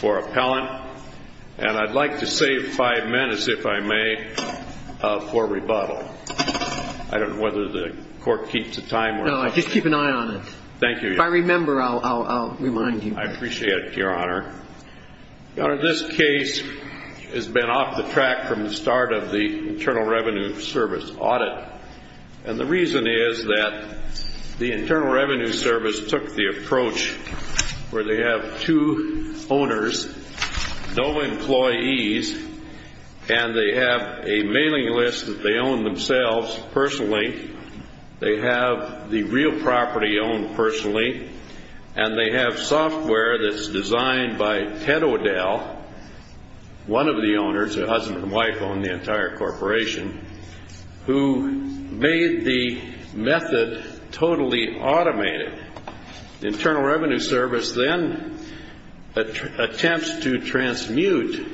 for appellant, and I'd like to save five minutes, if I may, for rebuttal. I don't know whether the court keeps the time or not. No, just keep an eye on it. Thank you. If I remember, I'll remind you. I appreciate it, Your Honor. Your Honor, this case has been off the track from the start of the Internal Revenue Service audit. And the reason is that the Internal Revenue Service took the approach where they have two owners, no employees, and they have a mailing list that they own themselves personally. They have the real property owned personally, and they have software that's designed by Ted O'Dell, one of the owners, the husband and wife own the entire corporation, who made the method totally automated. The Internal Revenue Service then attempts to transmute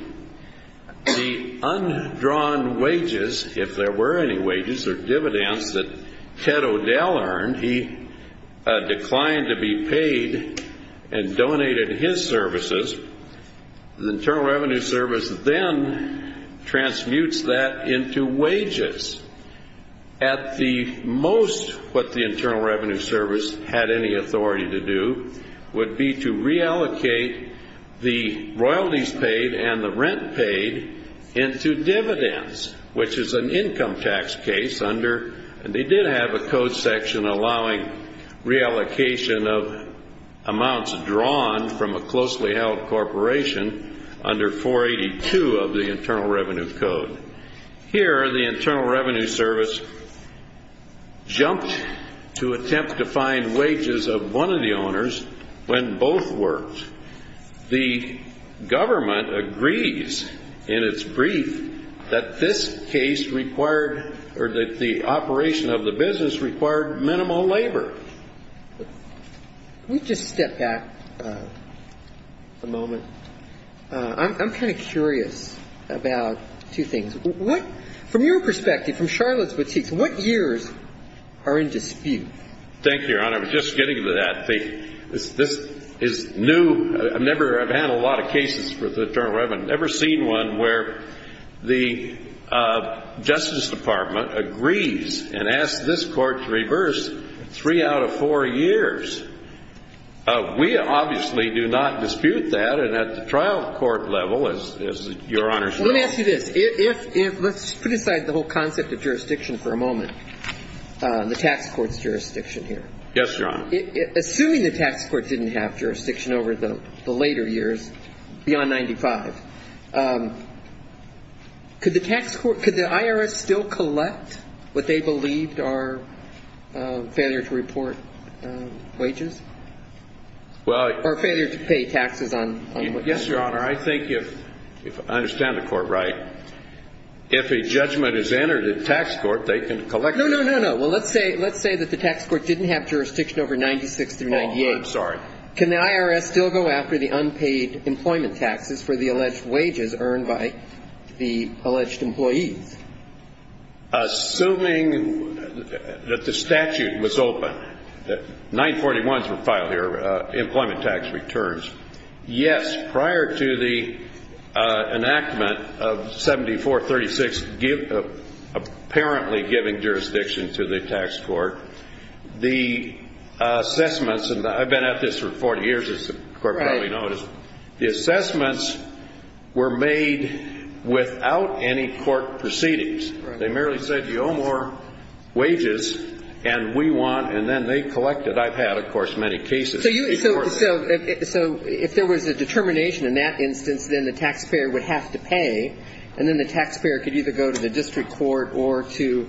the undrawn wages, if there were any wages or dividends, that Ted O'Dell earned. He declined to be paid and donated his services. The Internal Revenue Service then transmutes that into wages. At the most, what the Internal Revenue Service had any authority to do would be to reallocate the royalties paid and the rent paid into dividends, which is an income tax case. And they did have a code section allowing reallocation of amounts drawn from a closely held corporation under 482 of the Internal Revenue Code. Here, the Internal Revenue Service jumped to attempt to find wages of one of the owners when both worked. The government agrees in its brief that this case required, or that the operation of the business required, minimal labor. Can we just step back a moment? I'm kind of curious about two things. From your perspective, from Charlotte's boutique, what years are in dispute? Thank you, Your Honor. Just getting to that, this is new. I've never had a lot of cases for the Internal Revenue. I've never seen one where the Justice Department agrees and asks this court to reverse three out of four years. We obviously do not dispute that. And at the trial court level, as Your Honor said… Well, let me ask you this. Let's put aside the whole concept of jurisdiction for a moment, the tax court's jurisdiction here. Yes, Your Honor. Assuming the tax court didn't have jurisdiction over the later years, beyond 1995, could the IRS still collect what they believed are failure to report wages? Well… Or failure to pay taxes on wages? Yes, Your Honor. I think if… I understand the court right. If a judgment is entered at tax court, they can collect… No, no, no, no. Well, let's say that the tax court didn't have jurisdiction over 1996 through 1998. Oh, I'm sorry. Can the IRS still go after the unpaid employment taxes for the alleged wages earned by the alleged employees? Assuming that the statute was open, that 941s were filed here, employment tax returns, yes, prior to the enactment of 7436, apparently giving jurisdiction to the tax court, the assessments – and I've been at this for 40 years, as the court probably noticed – the assessments were made without any court proceedings. Right. They merely said, you owe more wages, and we want – and then they collected. I've had, of course, many cases. So if there was a determination in that instance, then the taxpayer would have to pay, and then the taxpayer could either go to the district court or to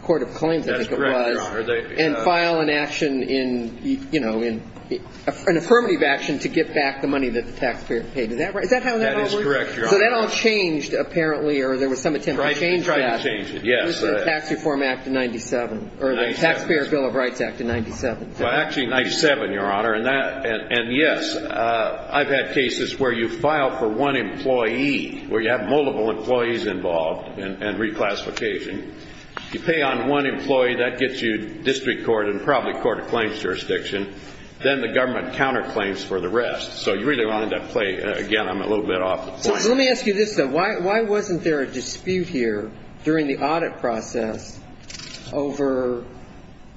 court of claims. That's correct, Your Honor. And file an action in – you know, an affirmative action to get back the money that the taxpayer paid. Is that how that all works? That is correct, Your Honor. So that all changed, apparently, or there was some attempt to change that. Tried to change it, yes. It was in the Tax Reform Act of 97. 97. Or the Taxpayer Bill of Rights Act of 97. Well, actually, 97, Your Honor, and that – and yes, I've had cases where you file for one employee, where you have multiple employees involved, and reclassification. You pay on one employee, that gets you district court and probably court of claims jurisdiction. Then the government counterclaims for the rest. So you really wanted to play – again, I'm a little bit off the point. Let me ask you this, though. Why wasn't there a dispute here during the audit process over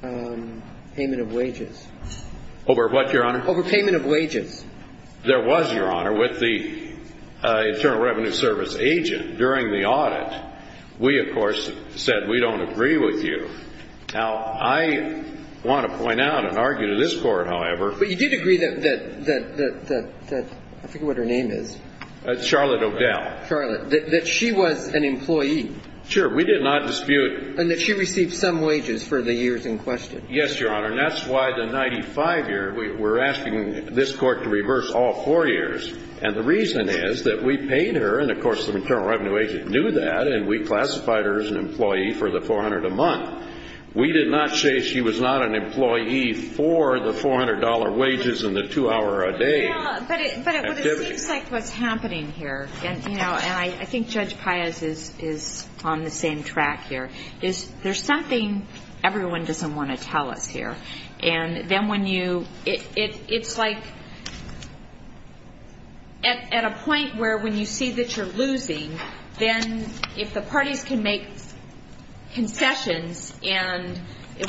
payment of wages? Over what, Your Honor? Over payment of wages. There was, Your Honor, with the Internal Revenue Service agent. During the audit, we, of course, said we don't agree with you. Now, I want to point out and argue to this Court, however. But you did agree that – I forget what her name is. Charlotte O'Dell. Charlotte. That she was an employee. Sure. We did not dispute. And that she received some wages for the years in question. Yes, Your Honor. And that's why the 95-year, we're asking this Court to reverse all four years. And the reason is that we paid her. And, of course, the Internal Revenue agent knew that. And we classified her as an employee for the $400 a month. We did not say she was not an employee for the $400 wages and the two-hour-a-day activity. But it seems like what's happening here, and I think Judge Pius is on the same track here, is there's something everyone doesn't want to tell us here. And then when you – it's like at a point where when you see that you're losing, then if the parties can make concessions and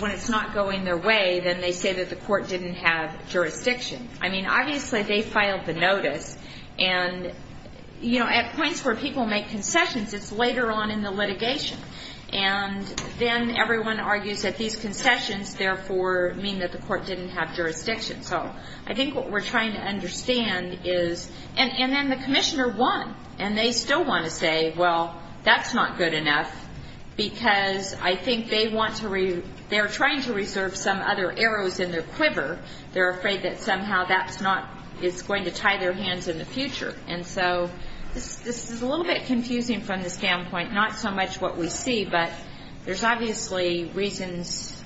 when it's not going their way, then they say that the court didn't have jurisdiction. I mean, obviously, they filed the notice. And, you know, at points where people make concessions, it's later on in the litigation. And then everyone argues that these concessions, therefore, mean that the court didn't have jurisdiction. So I think what we're trying to understand is – and then the commissioner won. And they still want to say, well, that's not good enough because I think they want to – they're trying to reserve some other arrows in their quiver. They're afraid that somehow that's not – it's going to tie their hands in the future. And so this is a little bit confusing from the standpoint, not so much what we see, but there's obviously reasons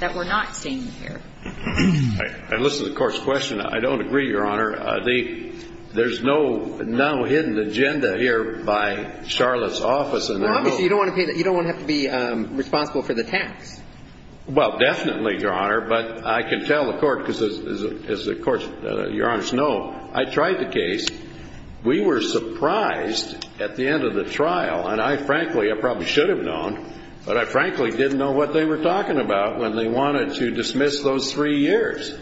that we're not seeing here. I listened to the court's question. I don't agree, Your Honor. There's no now hidden agenda here by Charlotte's office. Well, obviously, you don't want to pay – you don't want to have to be responsible for the tax. Well, definitely, Your Honor. But I can tell the court, because as the court, Your Honors, know, I tried the case. We were surprised at the end of the trial. And I frankly – I probably should have known, but I frankly didn't know what they were talking about when they wanted to dismiss those three years.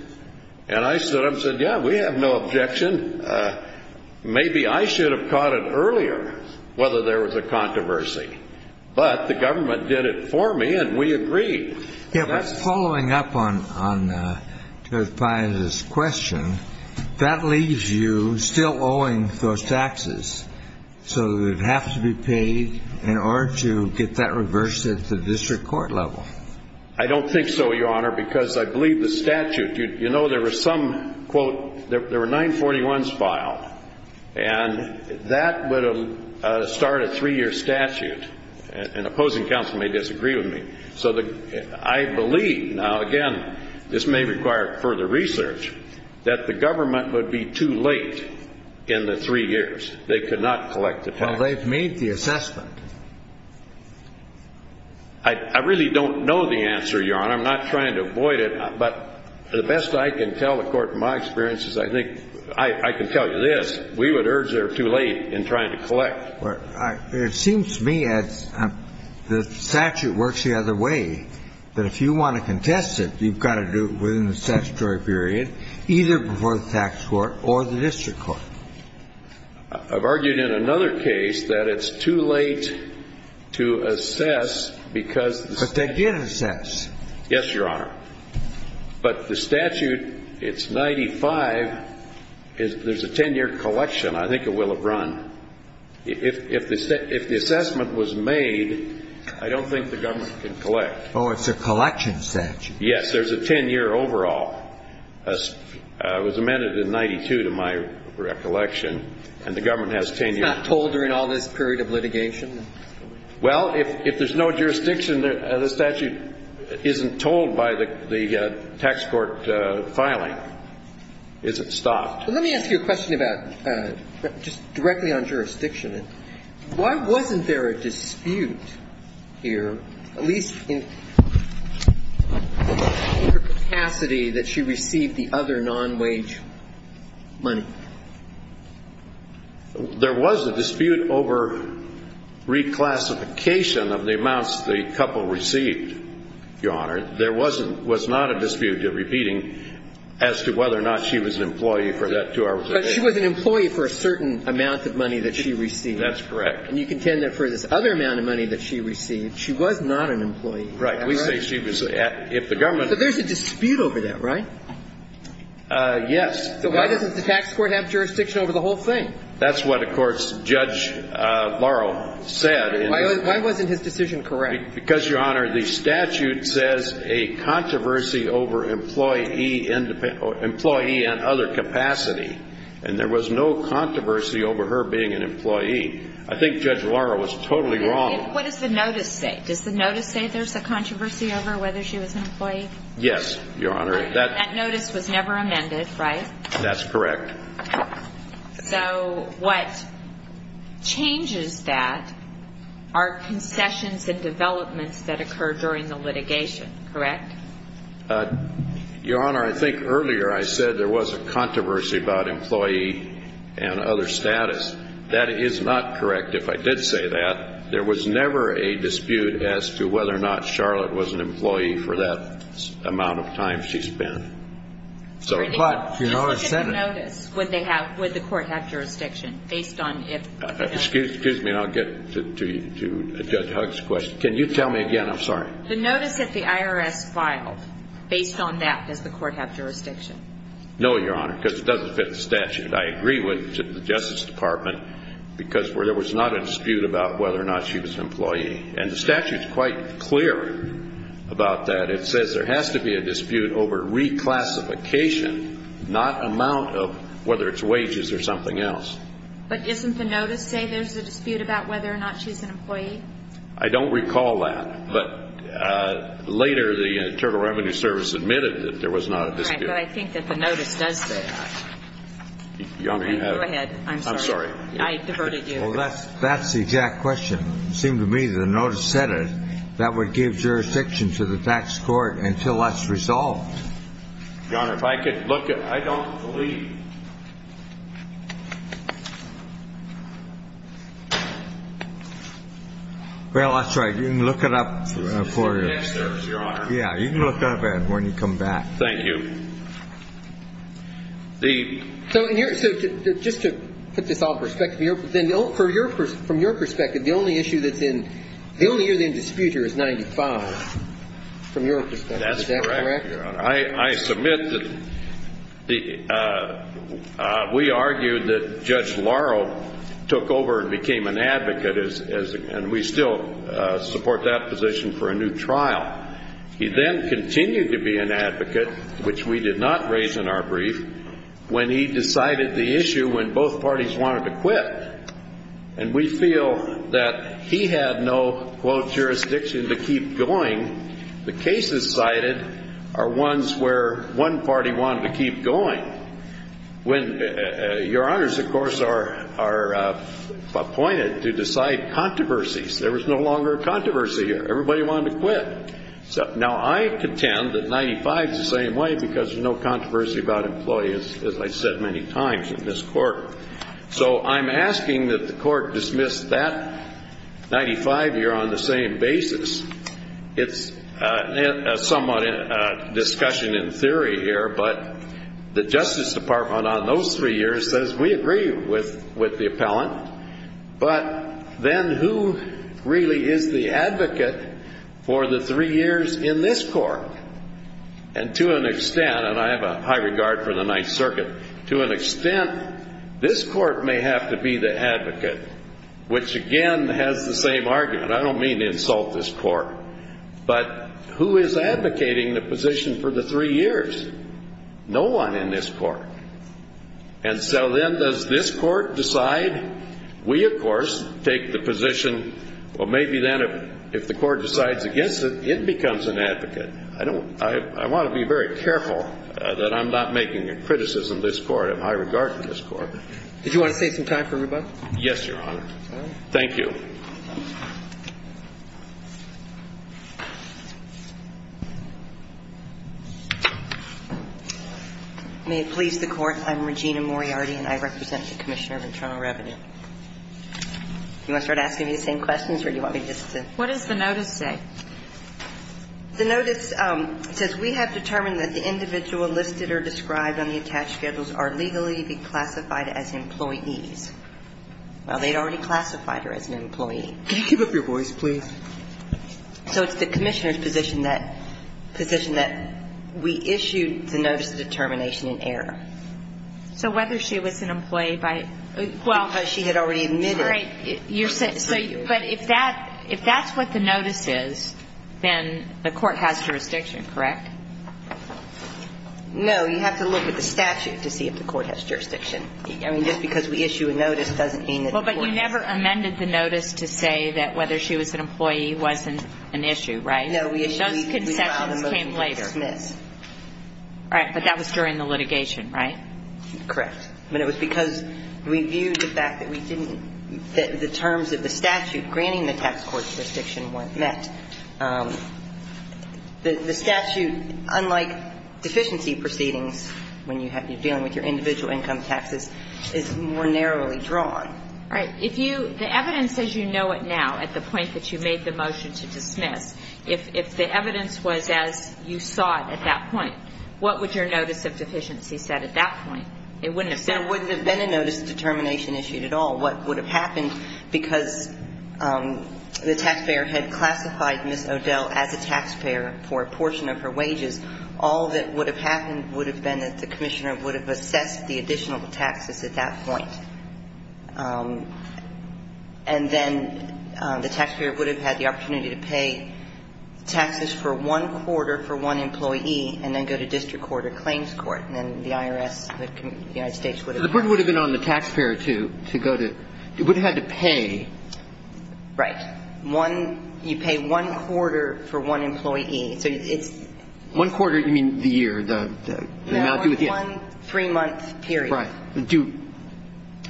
And I stood up and said, yeah, we have no objection. Maybe I should have caught it earlier, whether there was a controversy. But the government did it for me, and we agreed. Yeah, but following up on Judge Pius's question, that leaves you still owing those taxes. So it would have to be paid in order to get that reversed at the district court level. I don't think so, Your Honor, because I believe the statute – you know, there were some, quote, there were 941s filed, and that would start a three-year statute. An opposing counsel may disagree with me. So I believe – now, again, this may require further research – that the government would be too late in the three years. They could not collect the tax. Well, they've made the assessment. I really don't know the answer, Your Honor. I'm not trying to avoid it. But the best I can tell the court, in my experience, is I think – I can tell you this. We would urge they're too late in trying to collect. But it seems to me that the statute works the other way, that if you want to contest it, you've got to do it within the statutory period, either before the tax court or the district court. I've argued in another case that it's too late to assess because the statute – But they did assess. Yes, Your Honor. But the statute, it's 95. There's a 10-year collection. I think it will have run. If the assessment was made, I don't think the government can collect. Oh, it's a collection statute. Yes. There's a 10-year overall. It was amended in 92 to my recollection, and the government has 10 years. It's not told during all this period of litigation? Well, if there's no jurisdiction, the statute isn't told by the tax court filing. It's stopped. Let me ask you a question about just directly on jurisdiction. Why wasn't there a dispute here, at least in capacity, that she received the other non-wage money? There was a dispute over reclassification of the amounts the couple received, Your Honor. There wasn't – was not a dispute, repeating, as to whether or not she was an employee for that two hours a day. But she was an employee for a certain amount of money that she received. That's correct. And you contend that for this other amount of money that she received, she was not an employee. Right. We say she was if the government – So there's a dispute over that, right? Yes. So why doesn't the tax court have jurisdiction over the whole thing? That's what, of course, Judge Laurel said. Why wasn't his decision correct? Because, Your Honor, the statute says a controversy over employee and other capacity. And there was no controversy over her being an employee. I think Judge Laurel was totally wrong. What does the notice say? Does the notice say there's a controversy over whether she was an employee? Yes, Your Honor. That notice was never amended, right? That's correct. So what changes that are concessions and developments that occur during the litigation, correct? Your Honor, I think earlier I said there was a controversy about employee and other status. That is not correct. If I did say that, there was never a dispute as to whether or not Charlotte was an employee for that amount of time she spent. But, you know, I said that. Excuse me, and I'll get to Judge Hugg's question. Can you tell me again? I'm sorry. The notice that the IRS filed, based on that, does the court have jurisdiction? No, Your Honor, because it doesn't fit the statute. I agree with the Justice Department because there was not a dispute about whether or not she was an employee. And the statute is quite clear about that. It says there has to be a dispute over reclassification, not amount of whether it's wages or something else. But isn't the notice saying there's a dispute about whether or not she's an employee? I don't recall that. But later the Internal Revenue Service admitted that there was not a dispute. Right, but I think that the notice does say that. Your Honor, you have it. Go ahead. I'm sorry. I diverted you. Well, that's the exact question. It seemed to me that the notice said it. That would give jurisdiction to the tax court until that's resolved. Your Honor, if I could look at it. I don't believe. Well, that's right. You can look it up for you. Yes, Your Honor. Yeah, you can look it up when you come back. Thank you. So just to put this all in perspective. From your perspective, the only issue that's in dispute here is 95, from your perspective. Is that correct? That's correct, Your Honor. I submit that we argued that Judge Laurel took over and became an advocate, and we still support that position for a new trial. He then continued to be an advocate, which we did not raise in our brief, when he decided the issue when both parties wanted to quit. And we feel that he had no, quote, jurisdiction to keep going. The cases cited are ones where one party wanted to keep going. When Your Honors, of course, are appointed to decide controversies, there was no longer a controversy. Everybody wanted to quit. Now, I contend that 95 is the same way because there's no controversy about employees, as I've said many times in this court. So I'm asking that the court dismiss that 95 year on the same basis. It's somewhat a discussion in theory here, but the Justice Department on those three years says we agree with the appellant. But then who really is the advocate for the three years in this court? And to an extent, and I have a high regard for the Ninth Circuit, to an extent, this court may have to be the advocate, which again has the same argument. I don't mean to insult this court, but who is advocating the position for the three years? No one in this court. And so then does this court decide? We, of course, take the position, well, maybe then if the court decides against it, it becomes an advocate. I want to be very careful that I'm not making a criticism of this court. I have high regard for this court. Did you want to save some time for rebuttal? Yes, Your Honor. Thank you. May it please the Court, I'm Regina Moriarty, and I represent the Commissioner of Internal Revenue. You want to start asking me the same questions, or do you want me just to? What does the notice say? The notice says we have determined that the individual listed or described on the attached schedules are legally classified as employees. Well, they'd already classified her as an employee. Can you keep up your voice, please? So it's the Commissioner's position that we issued the notice of determination in error. So whether she was an employee by, well. Because she had already admitted. Right. But if that's what the notice is, then the court has jurisdiction, correct? No, you have to look at the statute to see if the court has jurisdiction. Well, but you never amended the notice to say that whether she was an employee wasn't an issue, right? No. Those concessions came later. All right. But that was during the litigation, right? Correct. But it was because we viewed the fact that we didn't, that the terms of the statute granting the tax court jurisdiction weren't met. The statute, unlike deficiency proceedings, when you're dealing with your individual income taxes, is more narrowly drawn. Right. If you, the evidence says you know it now at the point that you made the motion to dismiss. If the evidence was as you saw it at that point, what would your notice of deficiency say at that point? It wouldn't have said. There wouldn't have been a notice of determination issued at all. What would have happened, because the taxpayer had classified Ms. O'Dell as a taxpayer for a portion of her wages, all that would have happened would have been that the Commissioner would have assessed the additional taxes at that point. And then the taxpayer would have had the opportunity to pay taxes for one quarter for one employee and then go to district court or claims court. And then the IRS, the United States would have done that. So you would have asked the taxpayer to go to, it would have had to pay. Right. One, you pay one quarter for one employee. So it's. One quarter, you mean the year, the amount due at the end? No, one three-month period. Right. Do,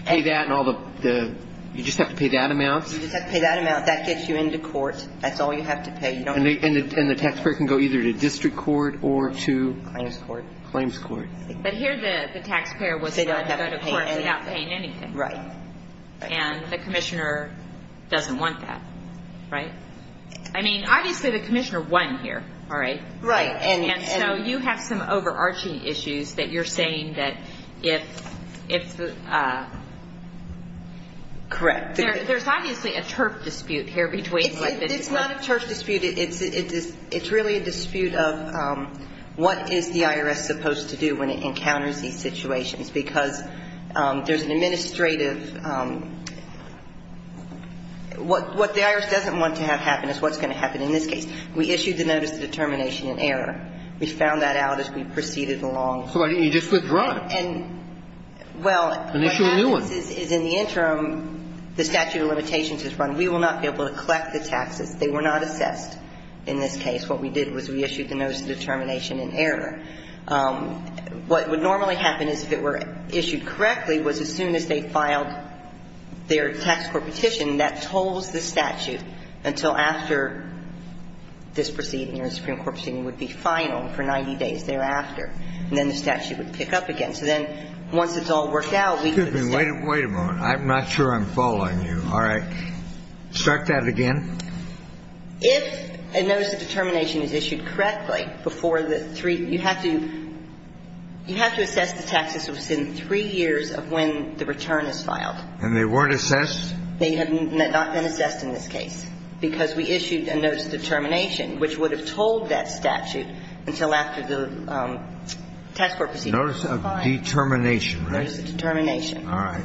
pay that and all the, you just have to pay that amount? You just have to pay that amount. That gets you into court. That's all you have to pay. And the taxpayer can go either to district court or to? Claims court. Claims court. But here the taxpayer was going to go to court without paying anything. Right. And the Commissioner doesn't want that, right? I mean, obviously the Commissioner won here, all right? Right. And so you have some overarching issues that you're saying that if, if. Correct. There's obviously a turf dispute here between. It's not a turf dispute. It's a, it's really a dispute of what is the IRS supposed to do when it encounters these situations? Because there's an administrative, what the IRS doesn't want to have happen is what's going to happen in this case. We issued the notice of determination in error. We found that out as we proceeded along. So you just withdraw it. And, well. And issue a new one. What happens is in the interim, the statute of limitations is run. We will not be able to collect the taxes. They were not assessed in this case. What we did was we issued the notice of determination in error. What would normally happen is if it were issued correctly was as soon as they filed their tax court petition, that tolls the statute until after this proceeding or the Supreme Court proceeding would be final for 90 days thereafter. And then the statute would pick up again. So then once it's all worked out. I'm not sure I'm following you. All right. Start that again. If a notice of determination is issued correctly before the three, you have to, you have to assess the taxes within three years of when the return is filed. And they weren't assessed? They have not been assessed in this case. Because we issued a notice of determination which would have told that statute until after the tax court proceedings. Notice of determination, right? Notice of determination. All right.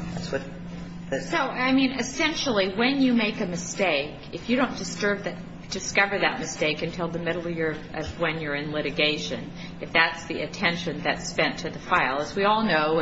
So, I mean, essentially when you make a mistake, if you don't discover that mistake until the middle of when you're in litigation, if that's the attention that's spent to the file, as we all know,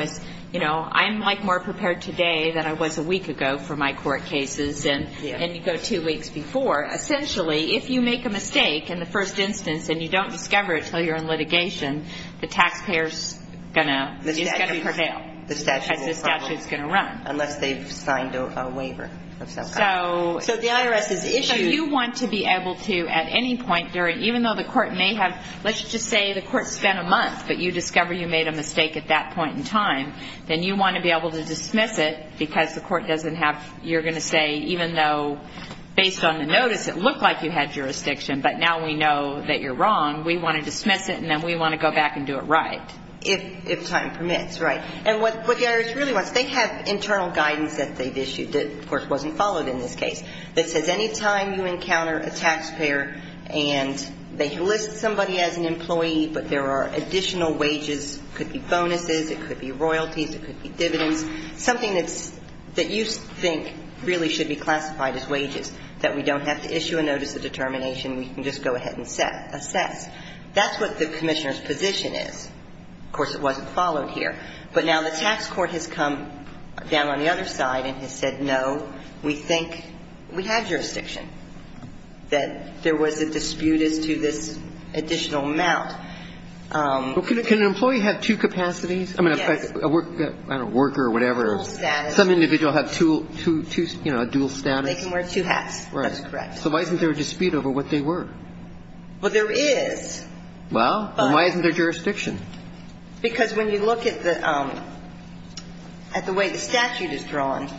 I'm like more prepared today than I was a week ago for my court cases. And you go two weeks before. Essentially, if you make a mistake in the first instance and you don't discover it until you're in litigation, the taxpayer is going to prevail. Because the statute is going to run. Unless they've signed a waiver of some kind. So the IRS is issued. So you want to be able to at any point during, even though the court may have, let's just say the court spent a month, but you discover you made a mistake at that point in time, then you want to be able to dismiss it because the court doesn't have, you're going to say even though based on the notice it looked like you had jurisdiction, but now we know that you're wrong, we want to dismiss it and then we want to go back and do it right. If time permits, right. And what the IRS really wants, they have internal guidance that they've issued, that of course wasn't followed in this case, that says any time you encounter a taxpayer and they list somebody as an employee, but there are additional wages, could be bonuses, it could be royalties, it could be dividends, something that you think really should be classified as wages, that we don't have to issue a notice of determination, we can just go ahead and assess. That's what the commissioner's position is. Of course it wasn't followed here. But now the tax court has come down on the other side and has said no, we think we have jurisdiction, that there was a dispute as to this additional amount. Can an employee have two capacities? Yes. I mean, a worker or whatever. Dual status. Some individual have two, you know, a dual status. They can wear two hats. That's correct. So why isn't there a dispute over what they were? Well, there is. Well, and why isn't there jurisdiction? Because when you look at the way the statute is drawn.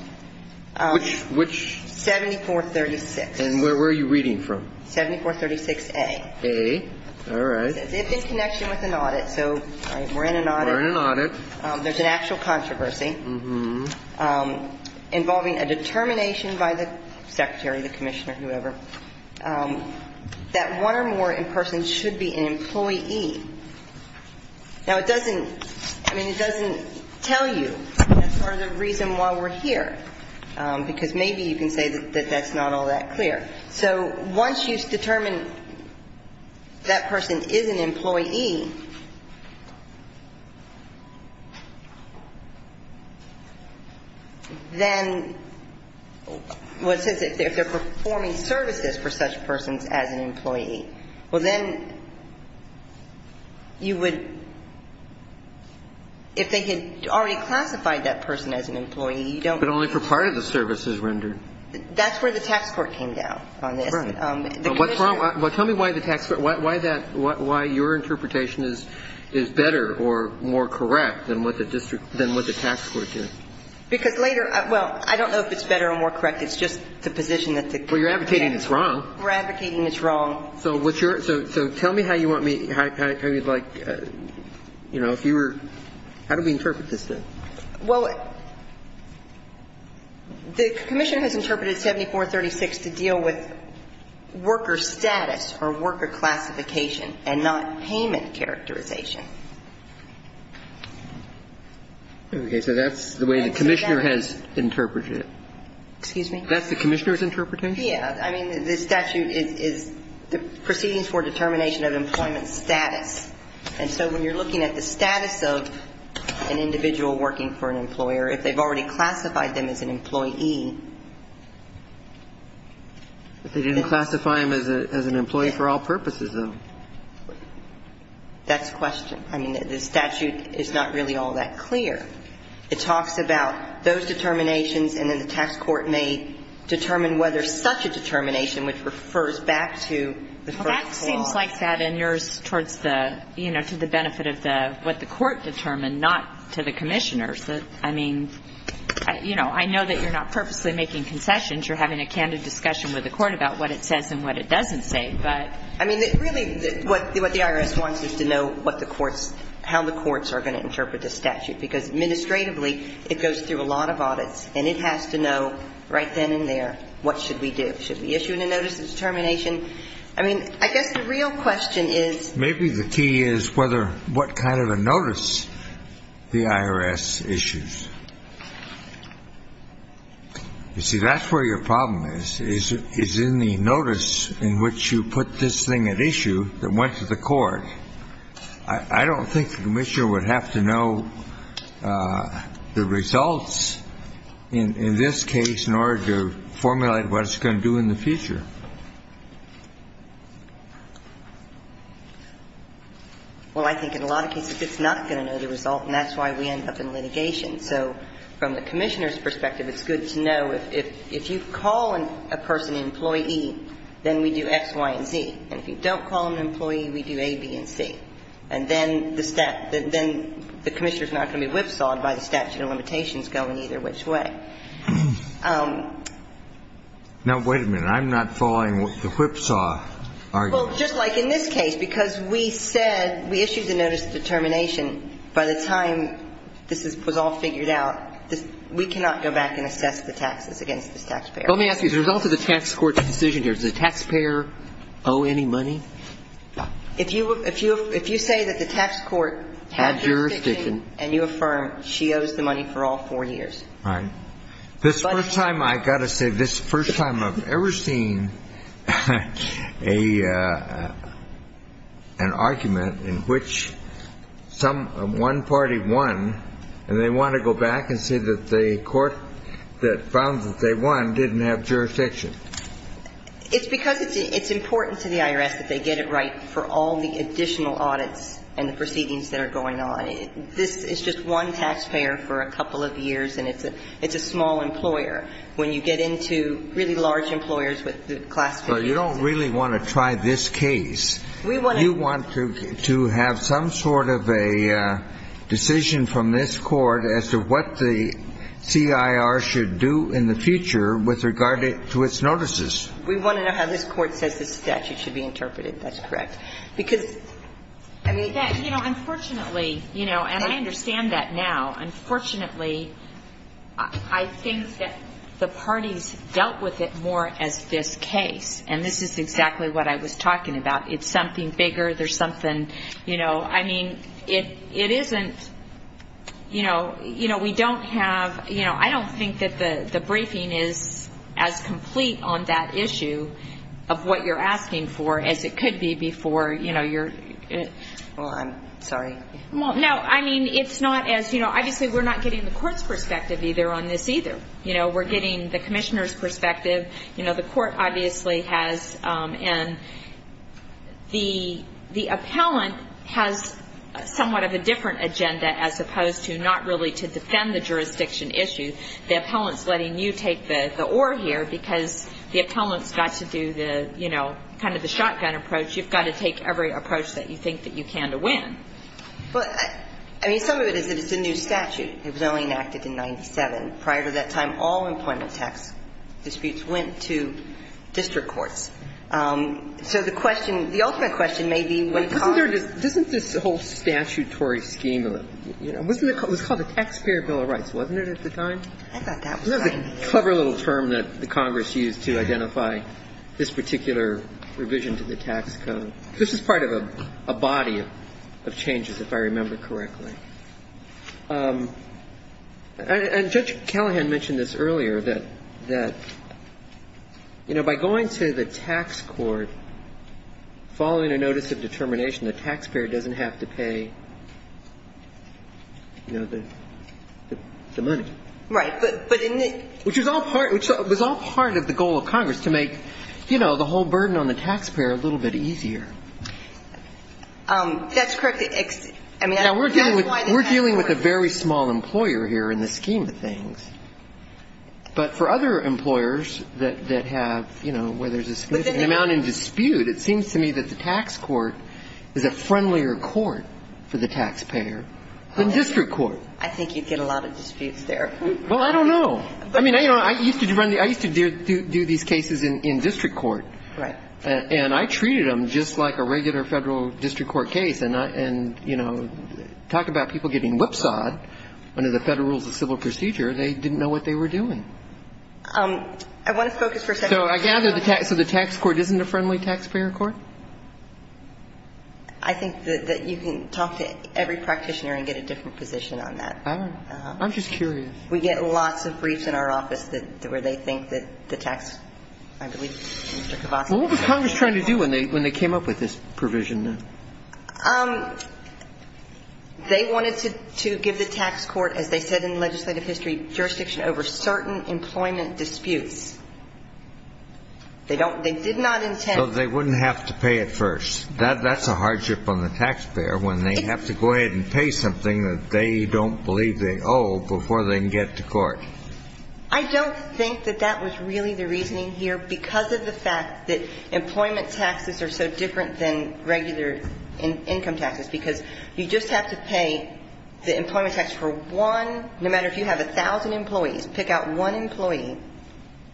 Which? 7436. And where are you reading from? 7436A. A. All right. It's in connection with an audit. So we're in an audit. We're in an audit. There's an actual controversy involving a determination by the secretary, the commissioner, whoever, that one or more in person should be an employee. Now, it doesn't, I mean, it doesn't tell you. That's part of the reason why we're here. Because maybe you can say that that's not all that clear. Well, it says that if they're performing services for such persons as an employee, well, then you would, if they had already classified that person as an employee, you don't need to. But only for part of the services rendered. That's where the tax court came down on this. Right. The commissioner. Well, tell me why the tax court, why that, why your interpretation is different is better or more correct than what the district, than what the tax court did. Because later, well, I don't know if it's better or more correct. It's just the position that the. Well, you're advocating it's wrong. We're advocating it's wrong. So what's your, so tell me how you want me, how you'd like, you know, if you were, how do we interpret this then? Well, the commissioner has interpreted 7436 to deal with worker status or worker classification and not payment characterization. Okay. So that's the way the commissioner has interpreted it. Excuse me? That's the commissioner's interpretation? Yeah. I mean, the statute is the proceedings for determination of employment status. And so when you're looking at the status of an individual working for an employer, if they've already classified them as an employee. They didn't classify them as an employee for all purposes, though. That's a question. I mean, the statute is not really all that clear. It talks about those determinations, and then the tax court may determine whether such a determination, which refers back to the first clause. Well, that seems like that in yours towards the, you know, to the benefit of the, what the court determined, not to the commissioners. I mean, you know, I know that you're not perfect. You're purposely making concessions. You're having a candid discussion with the court about what it says and what it doesn't say. But I mean, really, what the IRS wants is to know what the courts, how the courts are going to interpret the statute. Because administratively, it goes through a lot of audits, and it has to know right then and there what should we do. Should we issue a notice of determination? I mean, I guess the real question is. Maybe the key is what kind of a notice the IRS issues. You see, that's where your problem is, is in the notice in which you put this thing at issue that went to the court. I don't think the commissioner would have to know the results in this case in order to formulate what it's going to do in the future. Well, I think in a lot of cases, it's not going to know the result, and that's why we end up in litigation. So from the commissioner's perspective, it's good to know if you call a person an employee, then we do X, Y, and Z. And if you don't call an employee, we do A, B, and C. And then the commissioner is not going to be whipsawed by the statute of limitations going either which way. Now, wait a minute. I'm not following the whipsaw argument. Well, just like in this case, because we said we issued the notice of determination, by the time this was all figured out, we cannot go back and assess the taxes against this taxpayer. Let me ask you, as a result of the tax court's decision here, does the taxpayer owe any money? If you say that the tax court had jurisdiction and you affirm she owes the money for all four years. Right. This is the first time, I've got to say, this is the first time I've ever seen an argument in which one party won and they want to go back and say that the court that found that they won didn't have jurisdiction. It's because it's important to the IRS that they get it right for all the additional audits and the proceedings that are going on. This is just one taxpayer for a couple of years, and it's a small employer. When you get into really large employers with the classifications. Well, you don't really want to try this case. We want to. You want to have some sort of a decision from this Court as to what the CIR should do in the future with regard to its notices. We want to know how this Court says the statute should be interpreted. That's correct. Unfortunately, and I understand that now, unfortunately, I think that the parties dealt with it more as this case, and this is exactly what I was talking about. It's something bigger. There's something, you know, I mean, it isn't, you know, we don't have, you know, I don't think that the briefing is as complete on that issue of what you're asking for as it could be before, you know, you're. Well, I'm sorry. Well, no, I mean, it's not as, you know, obviously we're not getting the Court's perspective either on this either. You know, we're getting the Commissioner's perspective. You know, the Court obviously has, and the appellant has somewhat of a different agenda as opposed to not really to defend the jurisdiction issue. The appellant's letting you take the oar here because the appellant's got to do the, you know, kind of the shotgun approach. You've got to take every approach that you think that you can to win. But, I mean, some of it is that it's a new statute. It was only enacted in 97. Prior to that time, all employment tax disputes went to district courts. So the question, the ultimate question may be when Congress. But isn't there just, isn't this whole statutory scheme of it, you know, it was called the Taxpayer Bill of Rights, wasn't it at the time? I thought that was right. It was a clever little term that Congress used to identify this particular revision to the tax code. This is part of a body of changes, if I remember correctly. And Judge Callahan mentioned this earlier, that, you know, by going to the tax court, following a notice of determination, the taxpayer doesn't have to pay, you know, the money. Right. But in the. Which was all part of the goal of Congress, to make, you know, the whole burden on the taxpayer a little bit easier. That's correct. I mean. We're dealing with a very small employer here in the scheme of things. But for other employers that have, you know, where there's a significant amount in dispute, it seems to me that the tax court is a friendlier court for the taxpayer than district court. I think you'd get a lot of disputes there. Well, I don't know. I mean, you know, I used to do these cases in district court. Right. And I treated them just like a regular federal district court case. And, you know, talk about people getting whipsawed under the Federal Rules of Civil Procedure. They didn't know what they were doing. I want to focus for a second. So I gather the tax court isn't a friendly taxpayer court? I think that you can talk to every practitioner and get a different position on that. I don't know. I'm just curious. We get lots of briefs in our office where they think that the tax, I believe, Mr. Kavassa. Well, what was Congress trying to do when they came up with this provision? They wanted to give the tax court, as they said in legislative history, jurisdiction over certain employment disputes. They did not intend. So they wouldn't have to pay it first. That's a hardship on the taxpayer when they have to go ahead and pay something that they don't believe they owe before they can get to court. I don't think that that was really the reasoning here because of the fact that employment taxes are so different than regular income taxes because you just have to pay the employment tax for one, no matter if you have 1,000 employees, pick out one employee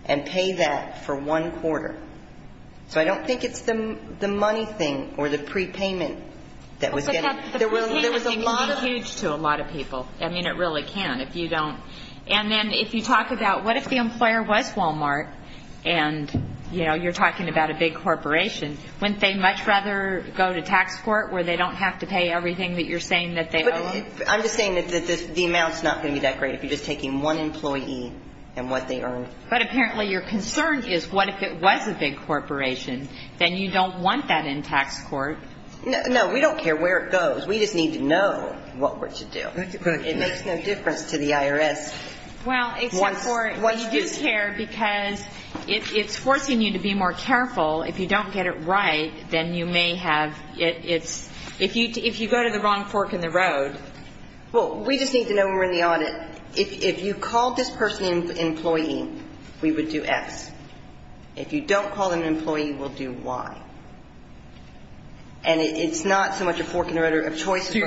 and pay that for one quarter. So I don't think it's the money thing or the prepayment that was getting. The prepayment thing can be huge to a lot of people. I mean, it really can if you don't. And then if you talk about what if the employer was Walmart and, you know, you're talking about a big corporation, wouldn't they much rather go to tax court where they don't have to pay everything that you're saying that they owe? I'm just saying that the amount's not going to be that great if you're just taking one employee and what they earn. But apparently your concern is what if it was a big corporation? Then you don't want that in tax court. No. We don't care where it goes. We just need to know what we're to do. It makes no difference to the IRS. Well, except for you do care because it's forcing you to be more careful. If you don't get it right, then you may have its – if you go to the wrong fork in the road. Well, we just need to know when we're in the audit. If you called this person an employee, we would do X. If you don't call them an employee, we'll do Y. And it's not so much a fork in the road of choices. We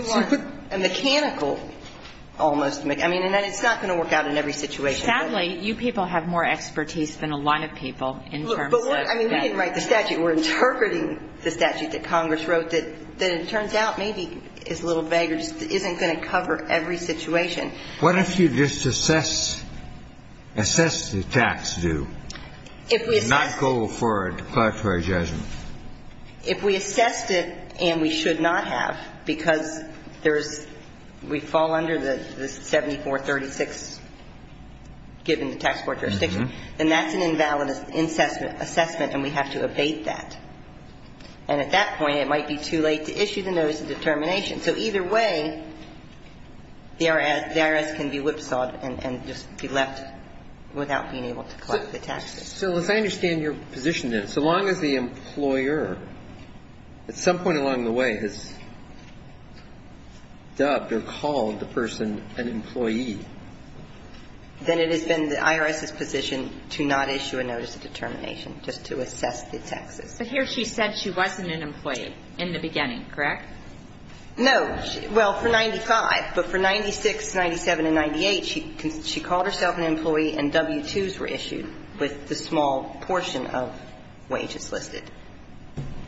want a mechanical almost – I mean, and it's not going to work out in every situation. Sadly, you people have more expertise than a lot of people in terms of – I mean, we didn't write the statute. We're interpreting the statute that Congress wrote that it turns out maybe is a little vague or just isn't going to cover every situation. What if you just assess the tax due and not go for a declaratory judgment? If we assessed it and we should not have because there's – we fall under the 7436 given the tax court jurisdiction, then that's an invalid assessment and we have to abate that. And at that point, it might be too late to issue the notice of determination. So either way, the IRS can be whipsawed and just be left without being able to collect the taxes. So as I understand your position, then, so long as the employer at some point along the way has dubbed or called the person an employee. Then it has been the IRS's position to not issue a notice of determination, just to assess the taxes. But here she said she wasn't an employee in the beginning, correct? No. Well, for 95. But for 96, 97, and 98, she called herself an employee and W-2s were issued with the small portion of wages listed.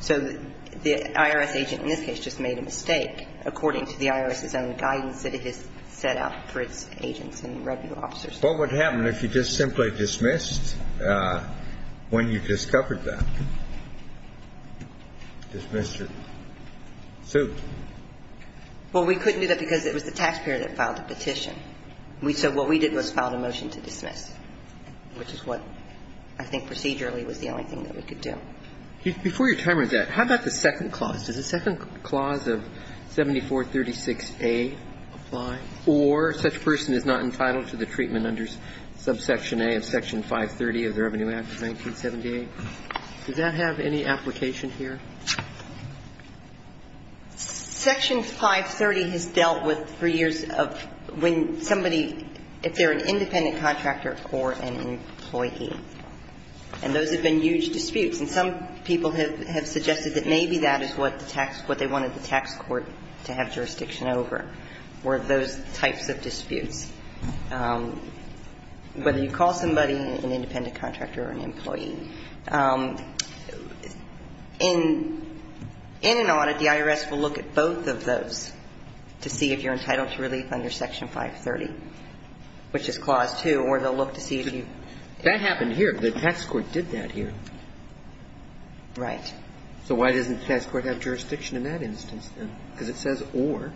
So the IRS agent in this case just made a mistake according to the IRS's own guidance that it has set out for its agents and revenue officers. Well, what happened if you just simply dismissed when you discovered that? Dismissed or sued? Well, we couldn't do that because it was the taxpayer that filed the petition. So what we did was file a motion to dismiss, which is what I think procedurally was the only thing that we could do. Before your time runs out, how about the second clause? Does the second clause of 7436A apply? Or such person is not entitled to the treatment under subsection A of Section 530 of the Revenue Act of 1978? Does that have any application here? Section 530 has dealt with for years of when somebody, if they're an independent contractor or an employee. And those have been huge disputes. And some people have suggested that maybe that is what the tax, what they wanted the tax court to have jurisdiction over, were those types of disputes. Whether you call somebody an independent contractor or an employee, in an audit, the IRS will look at both of those to see if you're entitled to relief under Section 530, which is Clause 2, or they'll look to see if you've. That happened here. The tax court did that here. Right. So why doesn't the tax court have jurisdiction in that instance then? Because it says or.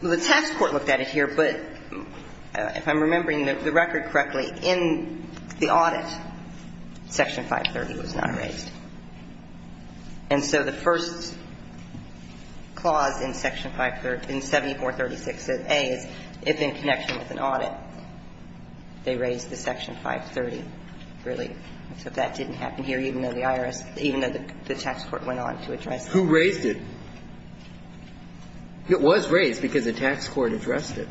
Well, the tax court looked at it here, but if I'm remembering the record correctly, in the audit, Section 530 was not raised. And so the first clause in Section 530, in 7436A is if in connection with an audit, they raised the Section 530 relief. So that didn't happen here, even though the IRS, even though the tax court went on to address it. Who raised it? It was raised because the tax court addressed it.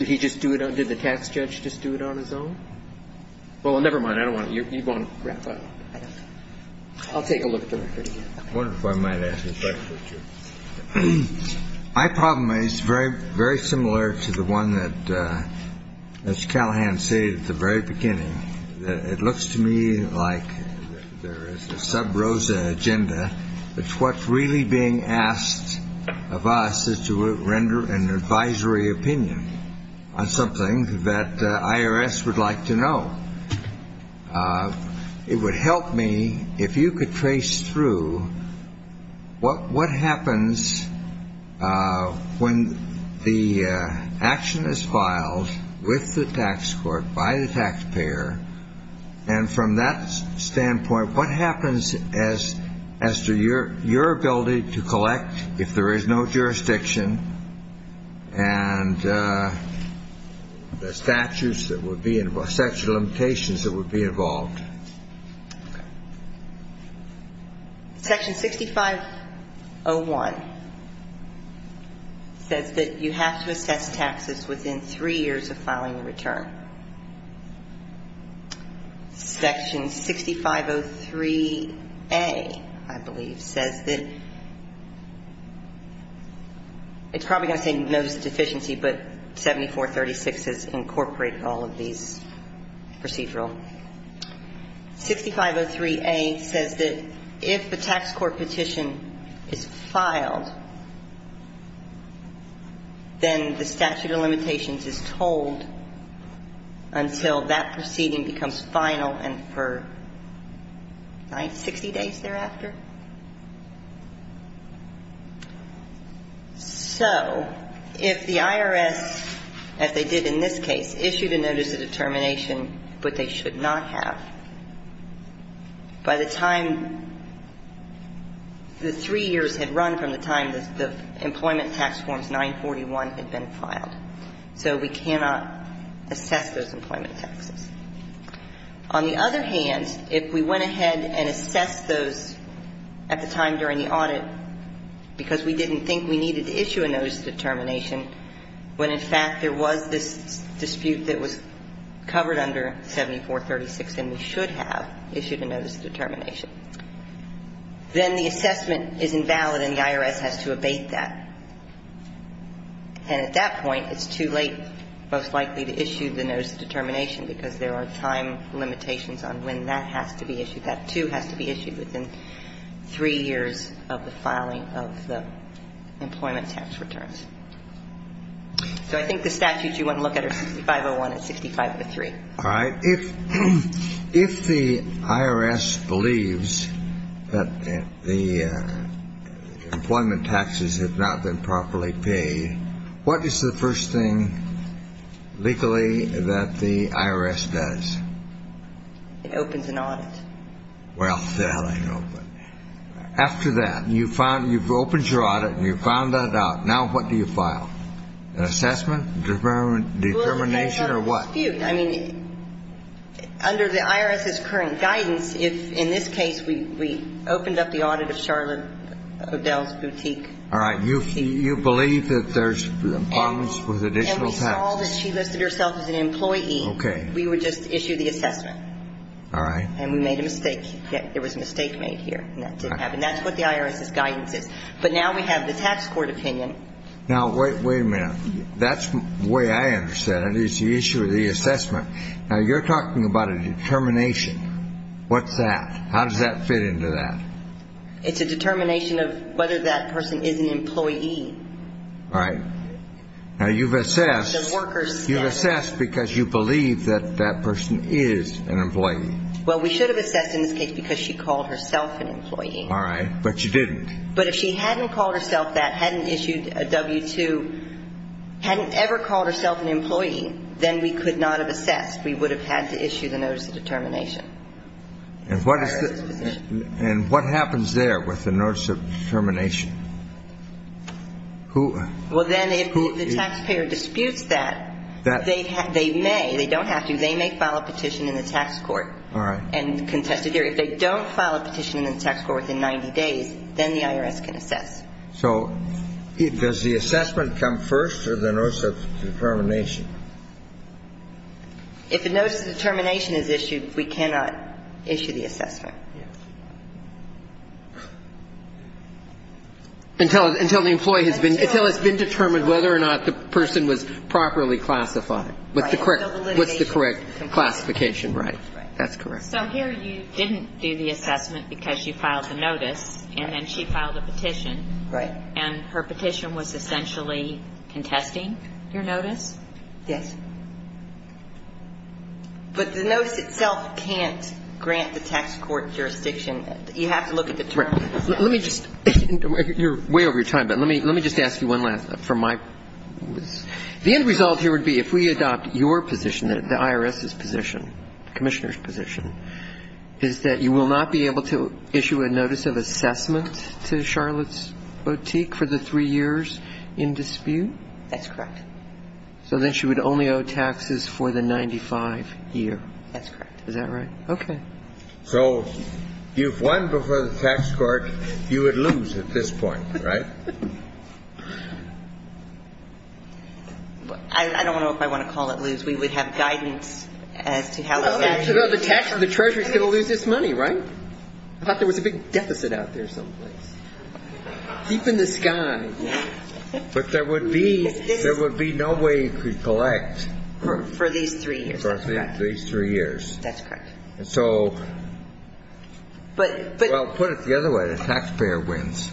Did he just do it on the tax judge just do it on his own? Well, never mind. I don't want to. You want to wrap up. I'll take a look at the record again. I wonder if I might ask a question. My problem is very, very similar to the one that Mr. Callahan said at the very beginning. It looks to me like there is a sub rosa agenda. It's what's really being asked of us is to render an advisory opinion on something that IRS would like to know. It would help me if you could trace through what happens when the action is filed with the tax court by the taxpayer. And from that standpoint, what happens as to your ability to collect if there is no jurisdiction? And the statutes that would be in sexual limitations that would be involved. Section 6501 says that you have to assess taxes within three years of filing a return. Section 6503A, I believe, says that it's probably going to say notice of deficiency, but 7436 has incorporated all of these procedural. 6503A says that if a tax court petition is filed, then the statute of limitations is told until that proceeding becomes final and for 60 days thereafter. So if the IRS, as they did in this case, issued a notice of determination, but they should not have, by the time the three years had run from the time the employment tax forms 941 had been filed, so we cannot assess those employment taxes. On the other hand, if we went ahead and assessed those at the time during the audit because we didn't think we needed to issue a notice of determination, when, in fact, there was this dispute that was covered under 7436 and we should have issued a notice of determination, then the assessment is invalid and the IRS has to abate that. And at that point, it's too late, most likely, to issue the notice of determination because there are time limitations on when that has to be issued. That, too, has to be issued within three years of the filing of the employment tax returns. So I think the statutes you want to look at are 6501 and 6503. All right. If the IRS believes that the employment taxes have not been properly paid, what is the first thing legally that the IRS does? It opens an audit. Well, that I know. But after that, you've opened your audit and you've found that out. Now what do you file? An assessment, determination, or what? A dispute. I mean, under the IRS's current guidance, in this case, we opened up the audit of Charlotte O'Dell's boutique. All right. You believe that there's problems with additional taxes. And we saw that she listed herself as an employee. Okay. We would just issue the assessment. All right. And we made a mistake. There was a mistake made here, and that didn't happen. That's what the IRS's guidance is. But now we have the tax court opinion. Now, wait a minute. That's the way I understand it. It's the issue of the assessment. Now, you're talking about a determination. What's that? How does that fit into that? It's a determination of whether that person is an employee. All right. Now, you've assessed. The worker's status. You've assessed because you believe that that person is an employee. Well, we should have assessed in this case because she called herself an employee. All right. But you didn't. But if she hadn't called herself that, hadn't issued a W-2, hadn't ever called herself an employee, then we could not have assessed. We would have had to issue the notice of determination. And what happens there with the notice of determination? Well, then, if the taxpayer disputes that, they may, they don't have to, they may file a petition in the tax court and contest it here. If they don't file a petition in the tax court within 90 days, then the IRS can assess. So does the assessment come first or the notice of determination? If the notice of determination is issued, we cannot issue the assessment. Yes. Until the employee has been, until it's been determined whether or not the person was properly classified. Right. What's the correct classification. Right. That's correct. So here you didn't do the assessment because you filed the notice. Right. And then she filed a petition. Right. And her petition was essentially contesting your notice? Yes. But the notice itself can't grant the tax court jurisdiction. You have to look at the terms. Right. Let me just, you're way over your time, but let me, let me just ask you one last, from my, the end result here would be if we adopt your position, the IRS's position, Commissioner's position, is that you will not be able to issue a notice of assessment to Charlotte's Boutique for the three years in dispute? That's correct. So then she would only owe taxes for the 95 year. That's correct. Is that right? Okay. So you've won before the tax court. You would lose at this point, right? I don't know if I want to call it lose. We would have guidance as to how that is. Well, the tax and the treasury is going to lose this money, right? I thought there was a big deficit out there someplace. Deep in the sky. But there would be, there would be no way you could collect. For these three years. For these three years. That's correct. And so, well, put it the other way, the taxpayer wins.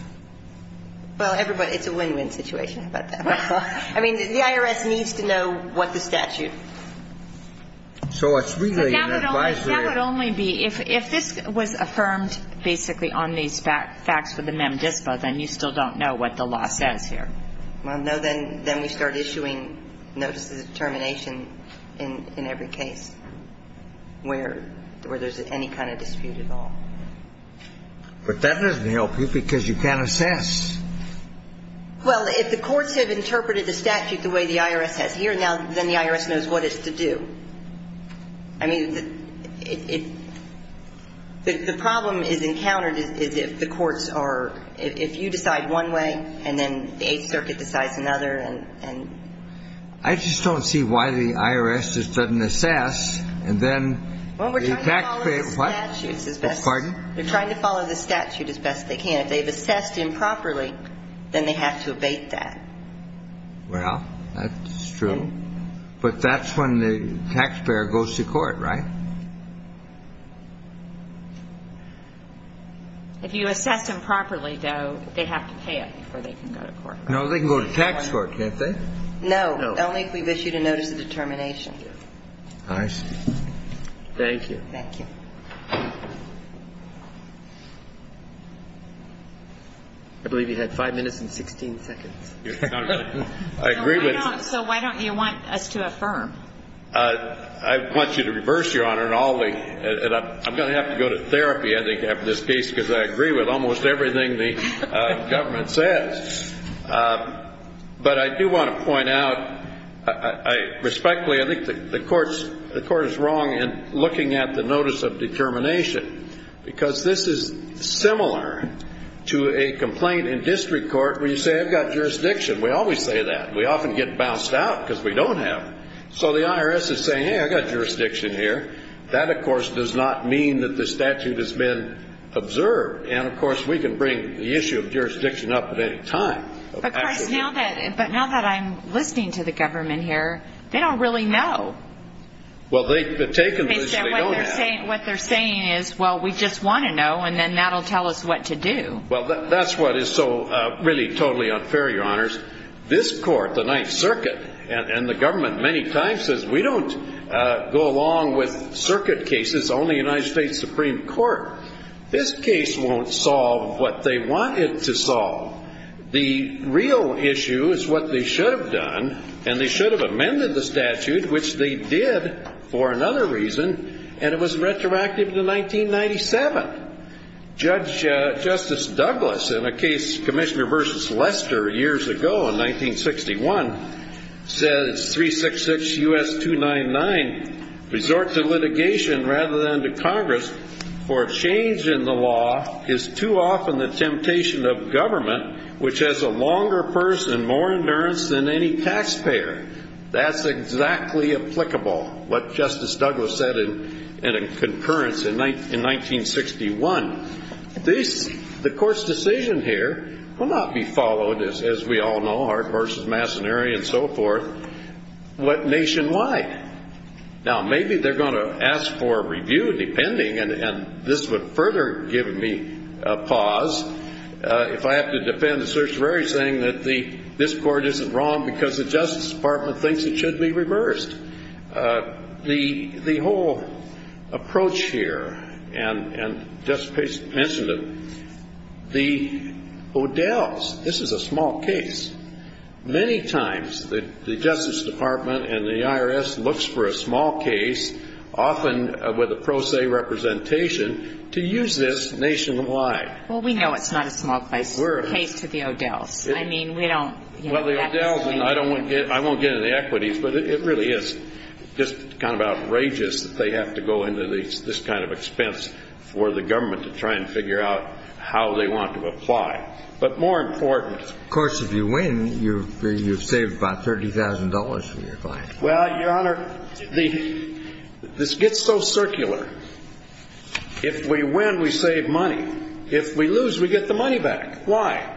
Well, everybody, it's a win-win situation. How about that? I mean, the IRS needs to know what the statute. So it's really an advisory. So that would only be, if this was affirmed basically on these facts for the mem dispo, then you still don't know what the law says here. Well, no, then we start issuing notices of termination in every case where there's any kind of dispute at all. But that doesn't help you because you can't assess. Well, if the courts have interpreted the statute the way the IRS has here, then the IRS knows what it's to do. I mean, the problem is encountered is if the courts are, if you decide one way and then the Eighth Circuit decides another and... I just don't see why the IRS just doesn't assess and then... Pardon? They're trying to follow the statute as best they can. If they've assessed improperly, then they have to abate that. Well, that's true. But that's when the taxpayer goes to court, right? If you assess improperly, though, they have to pay it before they can go to court. No, they can go to tax court, can't they? No, only if we've issued a notice of determination. I see. Thank you. Thank you. I believe you had five minutes and 16 seconds. I agree with... So why don't you want us to affirm? I want you to reverse, Your Honor, and I'm going to have to go to therapy, I think, after this case because I agree with almost everything the government says. But I do want to point out, respectfully, I think the court is wrong in looking at the notice of determination because this is similar to a complaint in district court where you say, I've got jurisdiction. We always say that. We often get bounced out because we don't have. So the IRS is saying, hey, I've got jurisdiction here. That, of course, does not mean that the statute has been observed. And, of course, we can bring the issue of jurisdiction up at any time. But, Chris, now that I'm listening to the government here, they don't really know. Well, they've taken this. What they're saying is, well, we just want to know, and then that will tell us what to do. Well, that's what is so really totally unfair, Your Honors. This court, the Ninth Circuit, and the government many times says we don't go along with circuit cases, only United States Supreme Court. This case won't solve what they want it to solve. The real issue is what they should have done, and they should have amended the statute, which they did for another reason, and it was retroactive to 1997. Justice Douglas, in a case, Commissioner v. Lester, years ago in 1961, says 366 U.S. 299, resort to litigation rather than to Congress for a change in the law is too often the temptation of government, which has a longer purse and more endurance than any taxpayer. That's exactly applicable, what Justice Douglas said in a concurrence in 1961. The court's decision here will not be followed, as we all know, Hart v. Massoneri and so forth, but nationwide. Now, maybe they're going to ask for a review, depending, and this would further give me a pause, if I have to defend the certiorari saying that this court isn't wrong because the Justice Department thinks it should be reversed. The whole approach here, and Justice Page mentioned it, the Odell's, this is a small case. Many times the Justice Department and the IRS looks for a small case, often with a pro se representation, to use this nationwide. Well, we know it's not a small case to the Odell's. Well, the Odell's, and I won't get into the equities, but it really is just kind of outrageous that they have to go into this kind of expense for the government to try and figure out how they want to apply. But more important... Of course, if you win, you've saved about $30,000 from your client. Well, Your Honor, this gets so circular. If we win, we save money. If we lose, we get the money back. Why?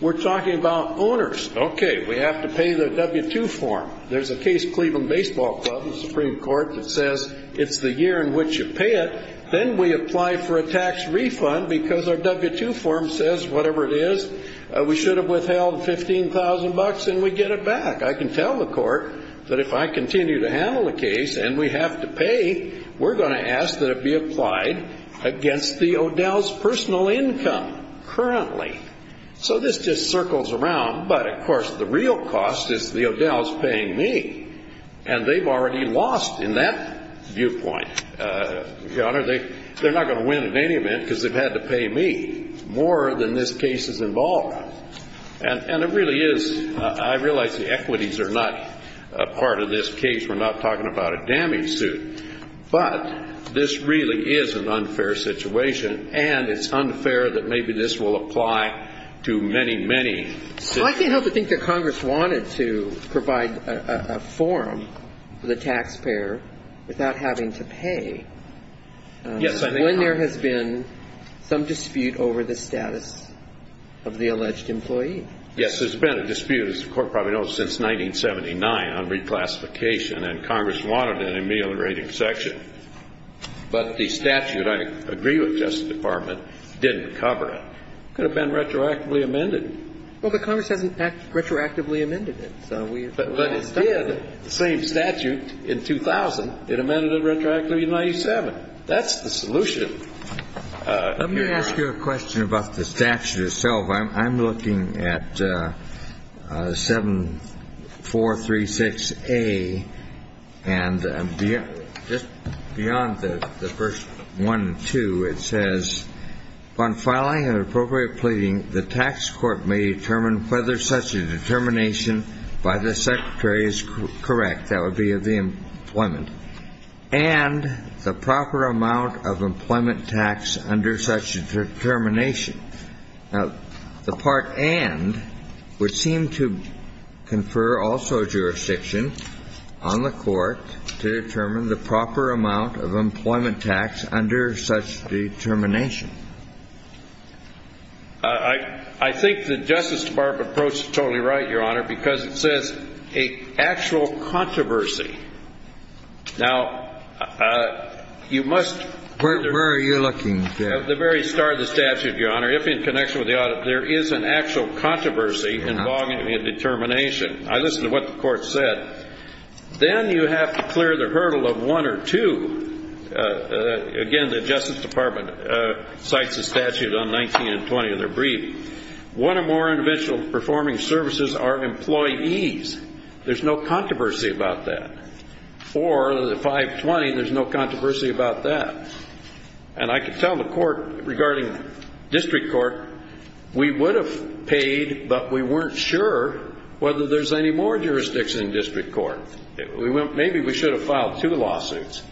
We're talking about owners. Okay, we have to pay the W-2 form. There's a case, Cleveland Baseball Club, the Supreme Court, that says it's the year in which you pay it. Then we apply for a tax refund because our W-2 form says, whatever it is, we should have withheld $15,000 and we get it back. I can tell the court that if I continue to handle the case and we have to pay, we're going to ask that it be applied against the Odell's personal income currently. So this just circles around. But, of course, the real cost is the Odell's paying me. And they've already lost in that viewpoint, Your Honor. They're not going to win in any event because they've had to pay me more than this case is involved with. And it really is. I realize the equities are not a part of this case. We're not talking about a damage suit. But this really is an unfair situation, and it's unfair that maybe this will apply to many, many cities. I can't help but think that Congress wanted to provide a form for the taxpayer without having to pay. Yes, I think Congress did. amended to cover the taxpayer's income and not the taxpayer's employee. Yes, there's been a dispute, as the Court probably knows, since 1979 on reclassification, and Congress wanted an ameliorated section. But the statute, I agree with the Justice Department, didn't cover it. It could have been retroactively amended. Well, but Congress hasn't retroactively amended it. But it did, the same statute, in 2000, it amended it retroactively in 1997. That's the solution. Let me ask you a question about the statute itself. I'm looking at 7436A, and just beyond the first one and two, it says, Upon filing an appropriate pleading, the tax court may determine whether such a determination by the secretary is correct. That would be of the employment. And the proper amount of employment tax under such a determination. Now, the part and would seem to confer also jurisdiction on the Court to determine the proper amount of employment tax under such determination. I think the Justice Department approach is totally right, Your Honor, because it says a actual controversy. Now, you must. Where are you looking? At the very start of the statute, Your Honor, if in connection with the audit, there is an actual controversy involving a determination. I listened to what the Court said. Then you have to clear the hurdle of one or two. Again, the Justice Department cites a statute on 19 and 20 of their brief. One or more individual performing services are employees. There's no controversy about that. For the 520, there's no controversy about that. And I can tell the Court regarding district court, we would have paid, but we weren't sure whether there's any more jurisdiction in district court. Maybe we should have filed two lawsuits.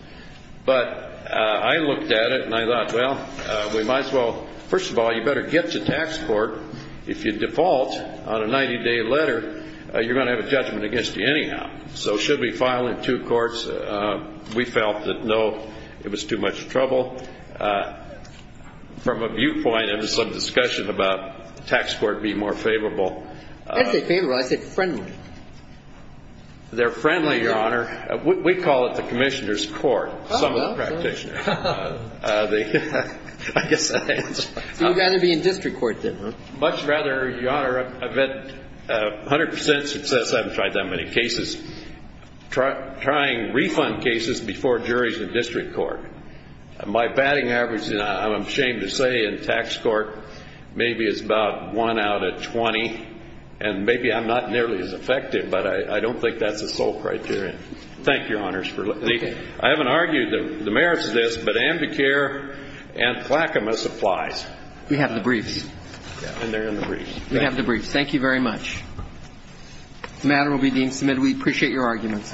But I looked at it, and I thought, well, we might as well. First of all, you better get to tax court. If you default on a 90-day letter, you're going to have a judgment against you anyhow. So should we file in two courts? We felt that, no, it was too much trouble. From a viewpoint of some discussion about tax court being more favorable. I didn't say favorable. I said friendly. They're friendly, Your Honor. We call it the commissioner's court, some of the practitioners. I guess that answers it. So you'd rather be in district court, then, huh? Much rather, Your Honor. I've had 100% success, I haven't tried that many cases, trying refund cases before juries in district court. My batting average, I'm ashamed to say, in tax court maybe is about 1 out of 20. And maybe I'm not nearly as effective, but I don't think that's the sole criterion. Thank you, Your Honors. I haven't argued that the merits of this, but amicare and placumas applies. We have the briefs. And they're in the briefs. We have the briefs. Thank you very much. The matter will be deemed submitted. We appreciate your arguments.